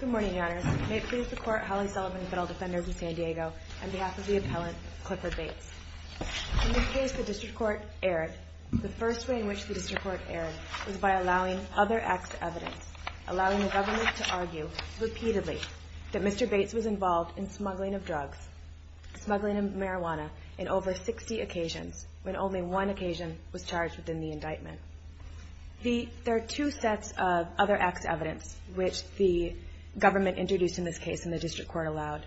Good morning, Your Honors. May it please the Court, Holly Sullivan, Federal Defenders in San Diego, on behalf of the appellant, Clifford Bates. In this case, the District Court erred. The first way in which the District Court erred was by allowing other acts of evidence, allowing the government to argue repeatedly that Mr. Bates was involved in smuggling of drugs, smuggling of marijuana, in over 60 occasions, when only one act of evidence, which the government introduced in this case and the District Court allowed.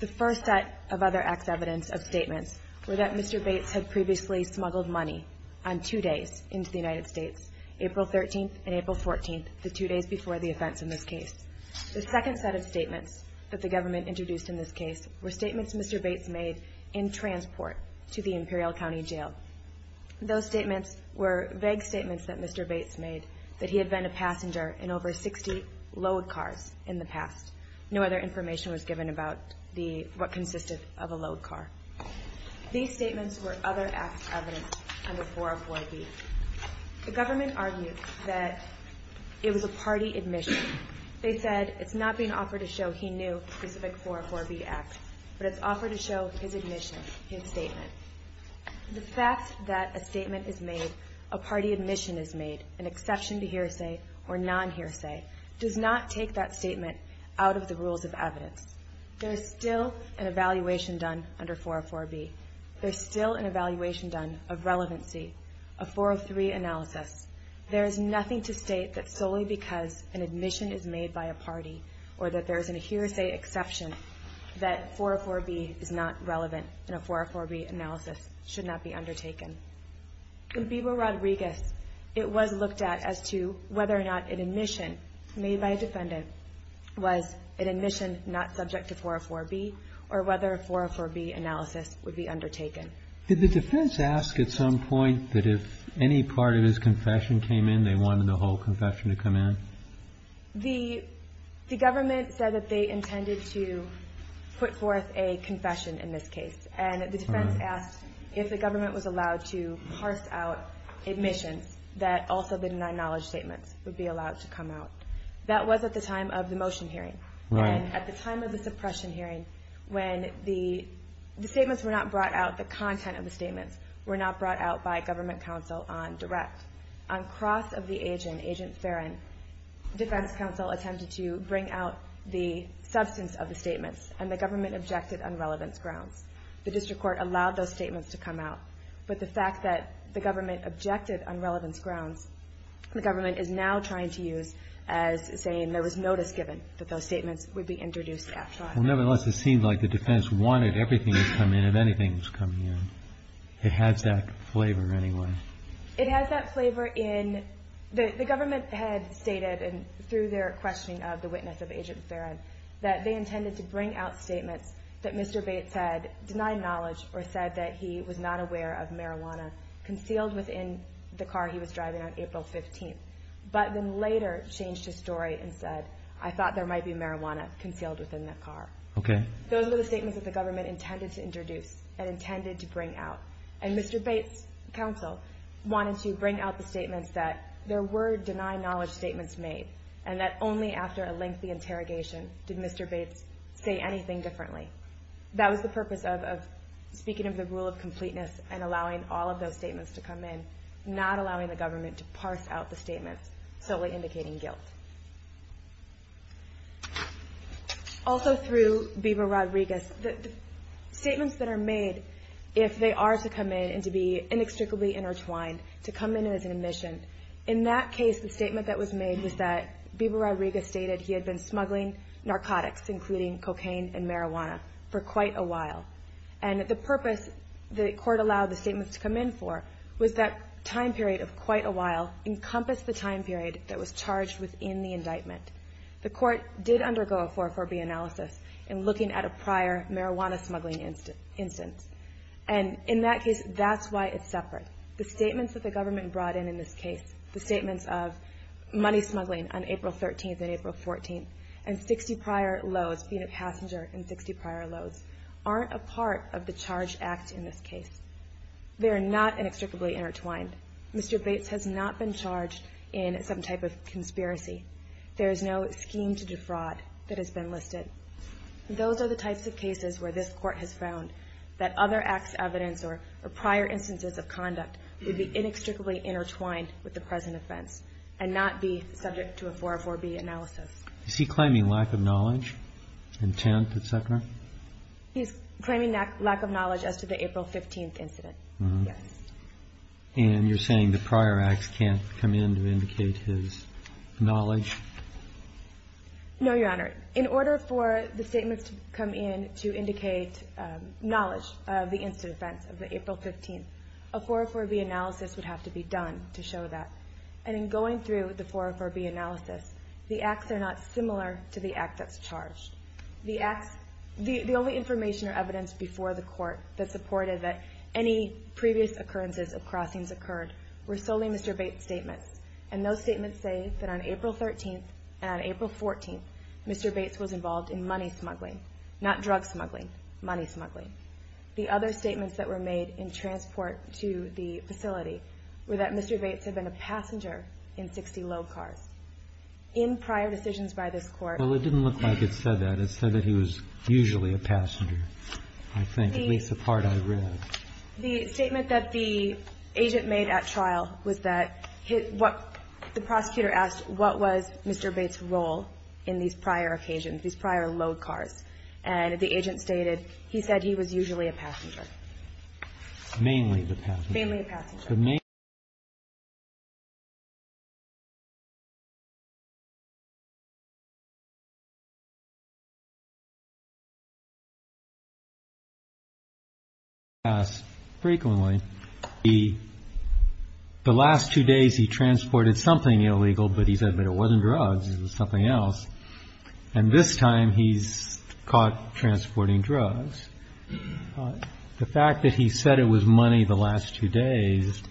The first set of other acts of evidence of statements were that Mr. Bates had previously smuggled money on two days into the United States, April 13th and April 14th, the two days before the offense in this case. The second set of statements that the government introduced in this case were statements Mr. Bates made in transport to the U.S. in 1960, load cars, in the past. No other information was given about what consisted of a load car. These statements were other acts of evidence under 404B. The government argued that it was a party admission. They said it's not being offered to show he knew specific 404B acts, but it's offered to show his admission, his statement. The fact that a statement is made, a party admission is made, an exception to hearsay or non-hearsay, does not take that statement out of the rules of evidence. There is still an evaluation done under 404B. There is still an evaluation done of relevancy, a 403 analysis. There is nothing to state that solely because an admission is made by a party or that there is a hearsay exception that 404B is not relevant and a 404B analysis should not be undertaken. In Biba Rodriguez, it was looked at as to whether or not an admission made by a defendant was an admission not subject to 404B or whether a 404B analysis would be undertaken. Did the defense ask at some point that if any part of his confession came in, they wanted the whole confession to come in? The government said that they intended to put forth a confession in this case. And the defense asked if the government was allowed to parse out admissions that also deny knowledge statements would be allowed to come out. That was at the time of the motion hearing. And at the time of the suppression hearing, when the statements were not brought out, the content of the statements were not brought out by government counsel on direct. On cross of the agent, agent Farron, defense counsel attempted to bring out the substance of the statements and the government objected on relevance grounds. The district court allowed those statements to come out. But the fact that the government objected on relevance grounds, the government is now trying to use as saying there was notice given that those statements would be introduced at trial. Well, nevertheless, it seemed like the defense wanted everything to come in if anything was coming in. It has that flavor anyway. It has that flavor in the government had stated and through their questioning of the witness of agent Farron that they intended to bring out statements that Mr. Bates had denied knowledge or said that he was not aware of marijuana concealed within the car he was driving on April 15th. But then later changed his story and said, I thought there might be marijuana concealed within that car. Those were the statements that the government intended to introduce and intended to bring out. And Mr. Bates counsel wanted to bring out the statements that there were denied knowledge statements made and that only after a lengthy interrogation did Mr. Bates say anything differently. That was the purpose of speaking of the rule of completeness and allowing all of those statements to come in, not allowing the government to parse out the statements solely indicating guilt. Also through Bieber Rodriguez, the statements that are made if they are to come in and to be inextricably intertwined, to come in as an admission, in that case the statement that was made was that Bieber Rodriguez stated he had been smuggling narcotics including cocaine and the court allowed the statements to come in for was that time period of quite a while encompassed the time period that was charged within the indictment. The court did undergo a 440 analysis in looking at a prior marijuana smuggling instance. And in that case, that's why it's separate. The statements that the government brought in in this case, the statements of money smuggling on April 13th and April 14th and 60 prior loads, being a They are not inextricably intertwined. Mr. Bates has not been charged in some type of conspiracy. There is no scheme to defraud that has been listed. Those are the types of cases where this court has found that other acts of evidence or prior instances of conduct would be inextricably intertwined with the present offense and not be subject to a 404B analysis. Is he claiming lack of knowledge, intent, et cetera? He's claiming lack of knowledge as to the April 15th incident. And you're saying the prior acts can't come in to indicate his knowledge? No, Your Honor. In order for the statements to come in to indicate knowledge of the incident of the April 15th, a 404B analysis would have to be done to The only information or evidence before the court that supported that any previous occurrences of crossings occurred were solely Mr. Bates' statements. And those statements say that on April 13th and April 14th, Mr. Bates was involved in money smuggling, not drug smuggling, money smuggling. The other statements that were made in transport to the facility were that Mr. Bates had been a passenger in 60 load cars. In prior decisions by this Court, Well, it didn't look like it said that. It said that he was usually a passenger, I think, at least the part I read. The statement that the agent made at trial was that what the prosecutor asked, what was Mr. Bates' role in these prior occasions, these prior load cars? And the agent stated he said he was usually a passenger. Mainly the passenger. Mainly the passenger. As a matter of fact, Mr. Bates' case is a case that's often asked. It was a case that was asked frequently. The last two days he transported something illegal, but he said it wasn't drugs, it was something else. And this time, he's caught transporting drugs. The fact that he said it was money the last two days,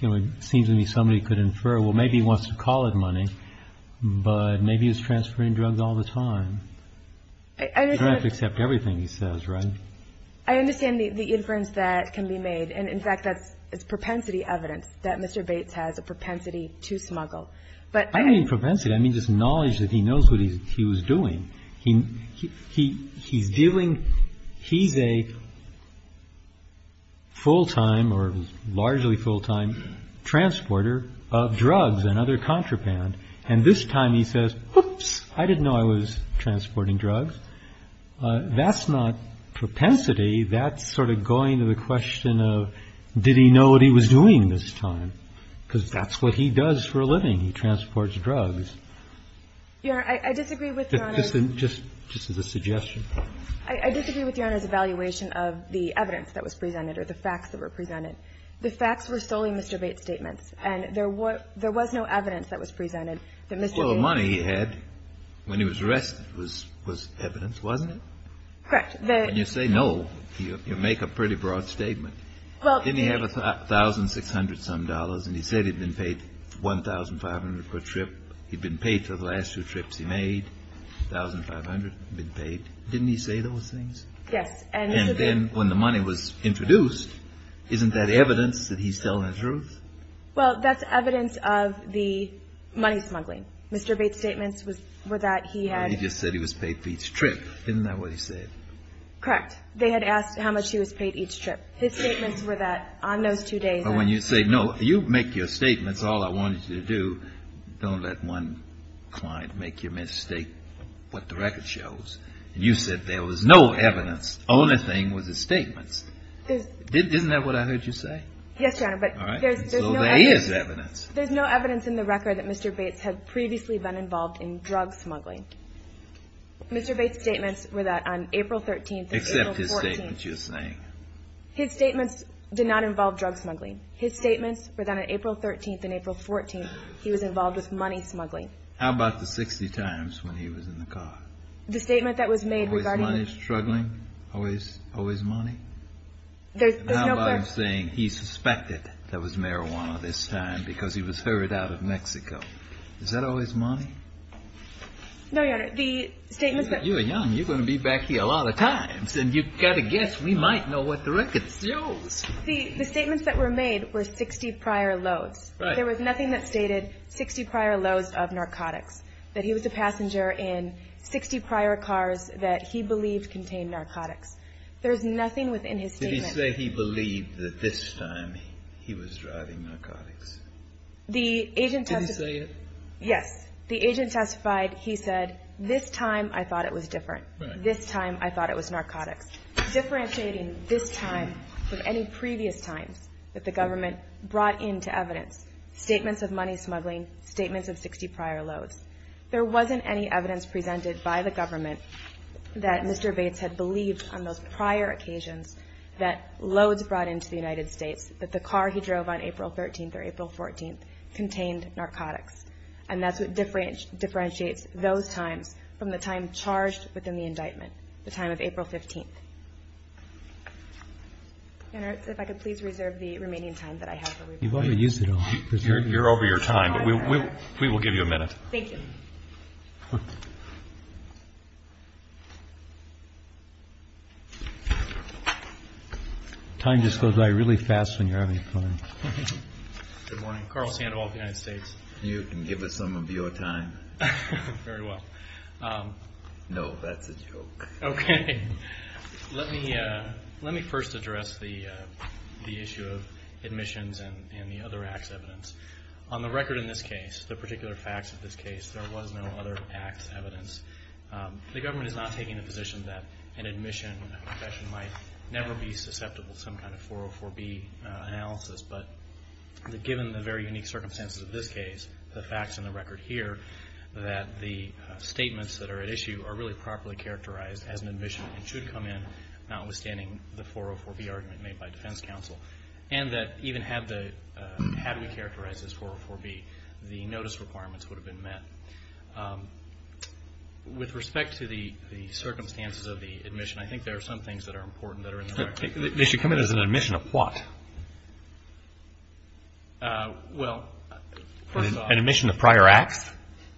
it seems to me somebody could infer, well, maybe he wants to call it money, but maybe he was transferring drugs all the time. You don't have to accept everything he says, right? I understand the inference that can be made. And, in fact, that's propensity evidence that Mr. Bates has a propensity to smuggle. I don't mean propensity, I mean just knowledge that he knows what he was doing. He's dealing, he's a full-time or largely full-time transporter of drugs and other contraband. And this time he says, oops, I didn't know I was transporting drugs. That's not propensity. That's sort of going to the question of, did he know what he was doing this time? Because that's what he does for a living, he transports drugs. I disagree with Your Honor's evaluation of the evidence that was presented or the facts that were presented. The facts were solely Mr. Bates' statements. And there was no evidence that was presented that Mr. Bates. Well, the money he had when he was arrested was evidence, wasn't it? Correct. When you say no, you make a pretty broad statement. Didn't he have 1,600-some dollars and he said he'd been paid 1,500 per trip, he'd been paid for the last two trips he made, 1,500, been paid. Didn't he say those things? Yes. And then when the money was introduced, isn't that evidence that he's telling the truth? Well, that's evidence of the money smuggling. Mr. Bates' statements were that he had. He just said he was paid for each trip. Isn't that what he said? Correct. They had asked how much he was paid each trip. His statements were that on those two days. But when you say no, you make your statements, all I want you to do, don't let one client make your mistake, what the record shows. And you said there was no evidence. Only thing was his statements. Isn't that what I heard you say? Yes, Your Honor, but there's no evidence. So there is evidence. There's no evidence in the record that Mr. Bates had previously been involved in drug smuggling. Mr. Bates' statements were that on April 13th and April 14th. Except his statements, you're saying. His statements did not involve drug smuggling. His statements were that on April 13th and April 14th, he was involved with money smuggling. How about the 60 times when he was in the car? The statement that was made regarding. Always money, struggling, always money? There's no question. How about him saying he suspected there was marijuana this time because he was heard out of Mexico. Is that always money? No, Your Honor, the statements. You're young. You're going to be back here a lot of times. And you've got to guess we might know what the record shows. The statements that were made were 60 prior loads. There was nothing that stated 60 prior loads of narcotics. That he was a passenger in 60 prior cars that he believed contained narcotics. There's nothing within his statement. Did he say he believed that this time he was driving narcotics? The agent testified. Did he say it? Yes. The agent testified. He said, this time I thought it was different. This time I thought it was narcotics. Differentiating this time from any previous times that the government brought into evidence, statements of money smuggling, statements of 60 prior loads, there wasn't any evidence presented by the government that Mr. Bates had believed on those prior occasions that loads brought into the United States that the car he drove on April 13th or April 14th contained narcotics. And that's what differentiates those times from the time charged within the indictment, the time of April 15th. Senator, if I could please reserve the remaining time that I have. You've already used it all. You're over your time, but we will give you a minute. Thank you. Time just goes by really fast when you're having fun. Good morning. I'm Carl Sandoval of the United States. You can give us some of your time. Very well. No, that's a joke. Okay. Let me first address the issue of admissions and the other acts evidence. On the record in this case, the particular facts of this case, there was no other acts evidence. The government is not taking the position that an admission confession might never be susceptible to some kind of 404B analysis, but given the very unique circumstances of this case, the facts on the record here, that the statements that are at issue are really properly characterized as an admission and should come in notwithstanding the 404B argument made by defense counsel, and that even had we characterized as 404B, the notice requirements would have been met. With respect to the circumstances of the admission, I think there are some things that are important that are in the record. They should come in as an admission of what? Well, first off. An admission of prior acts?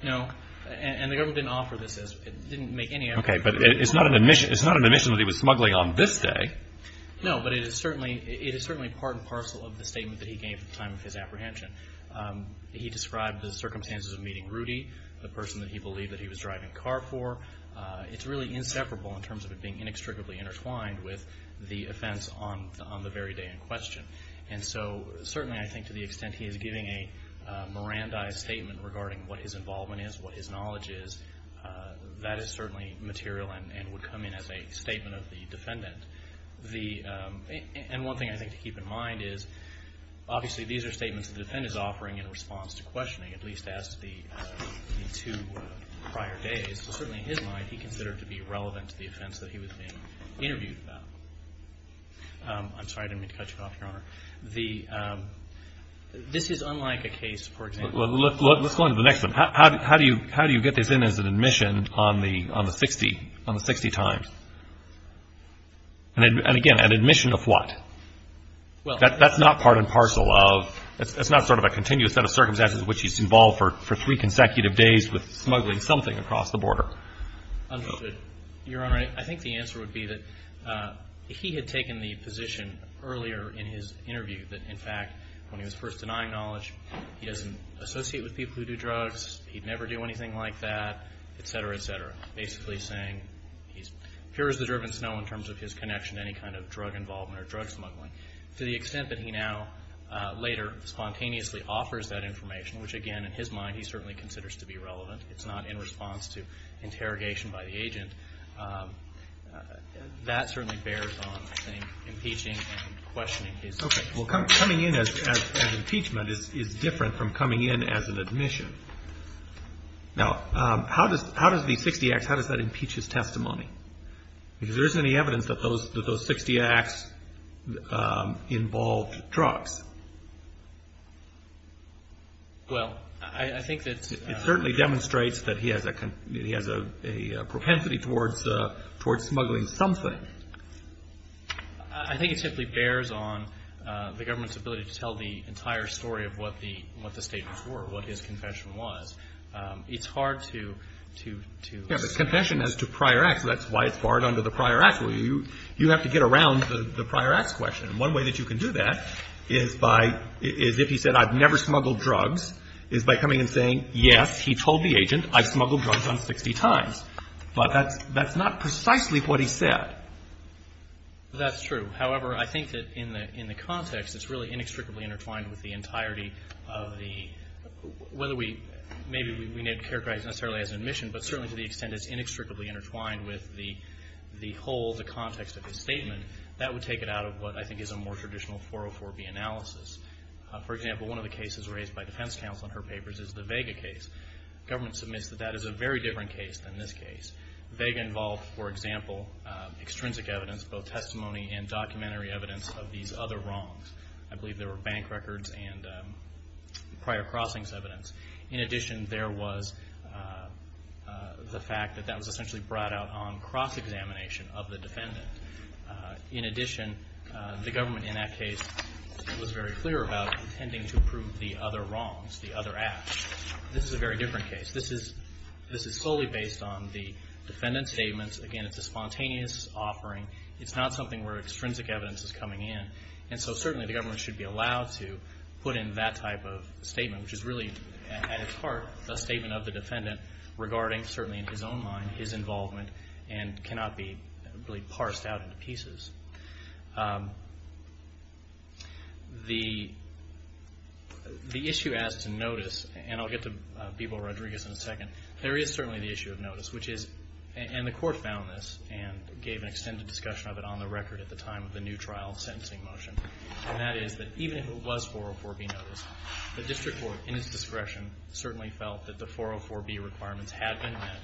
No, and the government didn't offer this. It didn't make any effort. Okay, but it's not an admission that he was smuggling on this day. No, but it is certainly part and parcel of the statement that he gave at the time of his apprehension. He described the circumstances of meeting Rudy, the person that he believed that he was driving a car for. It's really inseparable in terms of it being inextricably intertwined with the offense on the very day in question. And so certainly I think to the extent he is giving a Mirandized statement regarding what his involvement is, what his knowledge is, that is certainly material and would come in as a statement of the defendant. And one thing I think to keep in mind is obviously these are statements the defendant is offering in response to questioning, at least as to the two prior days, but certainly in his mind he considered to be relevant to the offense that he was being interviewed about. I'm sorry, I didn't mean to cut you off, Your Honor. This is unlike a case, for example. Let's go on to the next one. How do you get this in as an admission on the 60 times? And again, an admission of what? That's not part and parcel of, that's not sort of a continuous set of circumstances in which he's involved for three consecutive days with smuggling something across the border. Understood. Your Honor, I think the answer would be that he had taken the position earlier in his interview that in fact when he was first denying knowledge, he doesn't associate with people who do drugs, he'd never do anything like that, et cetera, et cetera. Here is the driven snow in terms of his connection to any kind of drug involvement or drug smuggling. To the extent that he now later spontaneously offers that information, which again in his mind he certainly considers to be relevant. It's not in response to interrogation by the agent. That certainly bears on, I think, impeaching and questioning his case. Okay. Well, coming in as impeachment is different from coming in as an admission. Now, how does the 60 acts, how does that impeach his testimony? Because there isn't any evidence that those 60 acts involved drugs. Well, I think that's. It certainly demonstrates that he has a propensity towards smuggling something. I think it simply bears on the government's ability to tell the entire story of what the statements were, what his confession was. It's hard to. Yeah, but confession as to prior acts, that's why it's barred under the prior acts. You have to get around the prior acts question. And one way that you can do that is by, is if he said I've never smuggled drugs, is by coming and saying yes, he told the agent, I've smuggled drugs on 60 times. But that's not precisely what he said. That's true. However, I think that in the context, it's really inextricably intertwined with the entirety of the, whether we, maybe we need to characterize necessarily as an admission, but certainly to the extent it's inextricably intertwined with the whole, the context of his statement. That would take it out of what I think is a more traditional 404B analysis. For example, one of the cases raised by defense counsel in her papers is the Vega case. Government submits that that is a very different case than this case. Vega involved, for example, extrinsic evidence, both testimony and documentary evidence of these other wrongs. I believe there were bank records and prior crossings evidence. In addition, there was the fact that that was essentially brought out on cross-examination of the defendant. In addition, the government in that case was very clear about intending to prove the other wrongs, the other acts. This is a very different case. This is solely based on the defendant's statements. Again, it's a spontaneous offering. It's not something where extrinsic evidence is coming in, and so certainly the government should be allowed to put in that type of statement, which is really at its heart a statement of the defendant regarding, certainly in his own mind, The issue as to notice, and I'll get to Bebo Rodriguez in a second, there is certainly the issue of notice, and the court found this and gave an extended discussion of it on the record at the time of the new trial sentencing motion, and that is that even if it was 404B notice, the district court in its discretion certainly felt that the 404B requirements had been met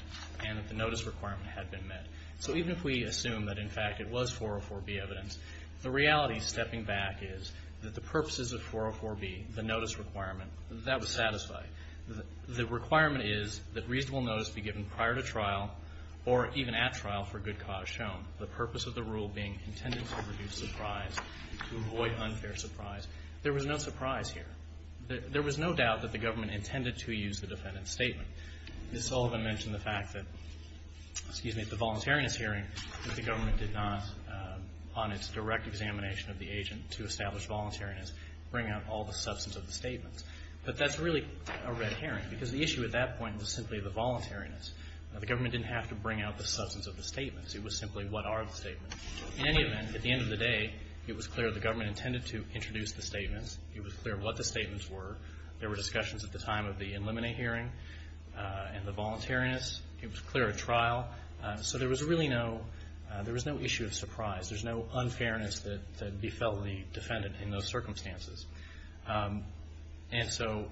and that the notice requirement had been met. So even if we assume that, in fact, it was 404B evidence, the reality stepping back is that the purposes of 404B, the notice requirement, that was satisfied. The requirement is that reasonable notice be given prior to trial or even at trial for good cause shown, the purpose of the rule being intended to reduce surprise, to avoid unfair surprise. There was no surprise here. There was no doubt that the government intended to use the defendant's statement. Ms. Sullivan mentioned the fact that, excuse me, at the voluntariness hearing, that the government did not, on its direct examination of the agent to establish voluntariness, bring out all the substance of the statements. But that's really a red herring, because the issue at that point was simply the voluntariness. The government didn't have to bring out the substance of the statements. It was simply what are the statements. In any event, at the end of the day, it was clear the government intended to introduce the statements. It was clear what the statements were. There were discussions at the time of the Illuminate hearing and the voluntariness. It was clear at trial. So there was really no issue of surprise. There's no unfairness that befell the defendant in those circumstances. And so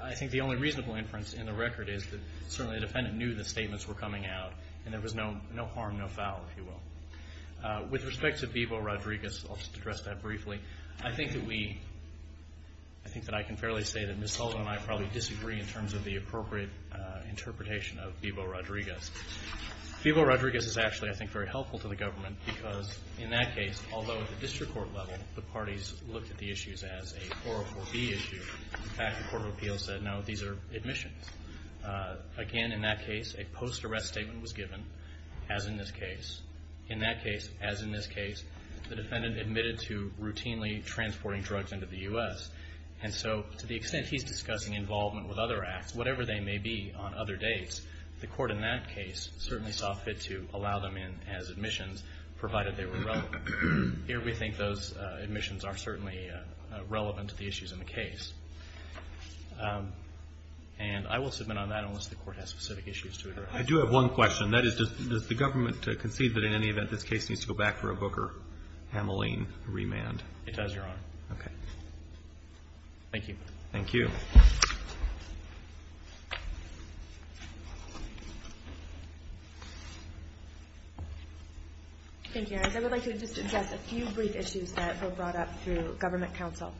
I think the only reasonable inference in the record is that certainly the defendant knew the statements were coming out, and there was no harm, no foul, if you will. With respect to Vivo Rodriguez, I'll just address that briefly. I think that we – I think that I can fairly say that Ms. Sullivan and I probably disagree in terms of the appropriate interpretation of Vivo Rodriguez. Vivo Rodriguez is actually, I think, very helpful to the government, because in that case, although at the district court level the parties looked at the issues as a 404B issue, in fact, the Court of Appeals said, no, these are admissions. Again, in that case, a post-arrest statement was given, as in this case. In that case, as in this case, the defendant admitted to routinely transporting drugs into the U.S. And so to the extent he's discussing involvement with other acts, whatever they may be on other dates, the court in that case certainly saw fit to allow them in as admissions, provided they were relevant. Here we think those admissions are certainly relevant to the issues in the case. And I will submit on that unless the court has specific issues to address. I do have one question. That is, does the government concede that in any event this case needs to go back for a Booker-Hamilene remand? It does, Your Honor. Okay. Thank you. Thank you. Thank you. I would like to just address a few brief issues that were brought up through government counsel.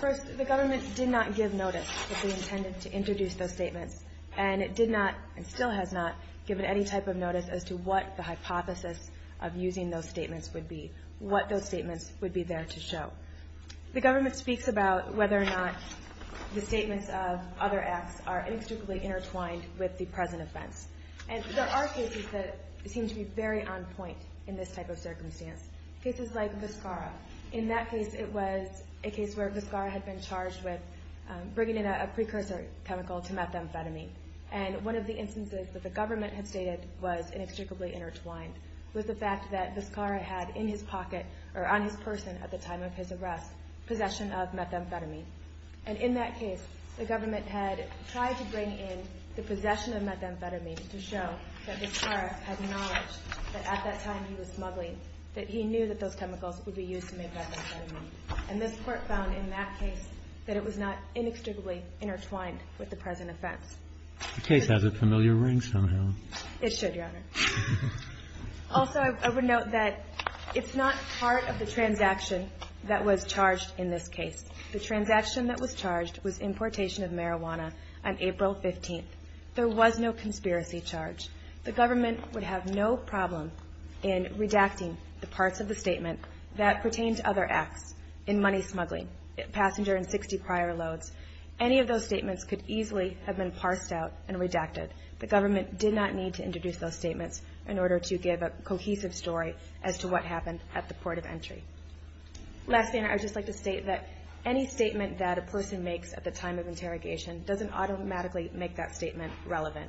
First, the government did not give notice that they intended to introduce those statements, and it did not and still has not given any type of notice as to what the hypothesis of using those statements would be, what those statements would be there to show. The government speaks about whether or not the statements of other acts are inextricably intertwined with the present offense. And there are cases that seem to be very on point in this type of circumstance, cases like Viscara. In that case, it was a case where Viscara had been charged with bringing in a precursor chemical to methamphetamine. And one of the instances that the government had stated was inextricably intertwined was the fact that Viscara had in his pocket or on his person at the time of his arrest possession of methamphetamine. And in that case, the government had tried to bring in the possession of methamphetamine to show that Viscara had knowledge that at that time he was smuggling, that he knew that those chemicals would be used to make methamphetamine. And this Court found in that case that it was not inextricably intertwined with the present offense. The case has a familiar ring somehow. It should, Your Honor. Also, I would note that it's not part of the transaction that was charged in this case. The transaction that was charged was importation of marijuana on April 15th. There was no conspiracy charge. The government would have no problem in redacting the parts of the statement that pertained to other acts in money smuggling, passenger and 60 prior loads. Any of those statements could easily have been parsed out and redacted. The government did not need to introduce those statements in order to give a cohesive story as to what happened at the port of entry. Lastly, I would just like to state that any statement that a person makes at the time of interrogation doesn't automatically make that statement relevant.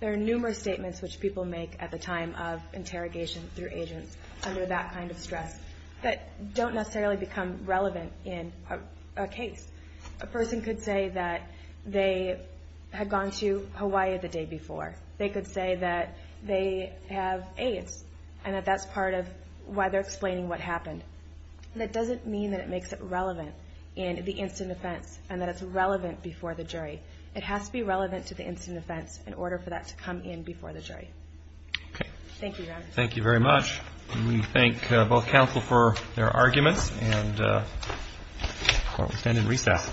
There are numerous statements which people make at the time of interrogation through agents under that kind of stress that don't necessarily become relevant in a case. A person could say that they had gone to Hawaii the day before. They could say that they have AIDS and that that's part of why they're explaining what happened. That doesn't mean that it makes it relevant in the instant offense and that it's relevant before the jury. It has to be relevant to the instant offense in order for that to come in before the jury. Thank you. Thank you very much. We thank both counsel for their arguments and we stand in recess.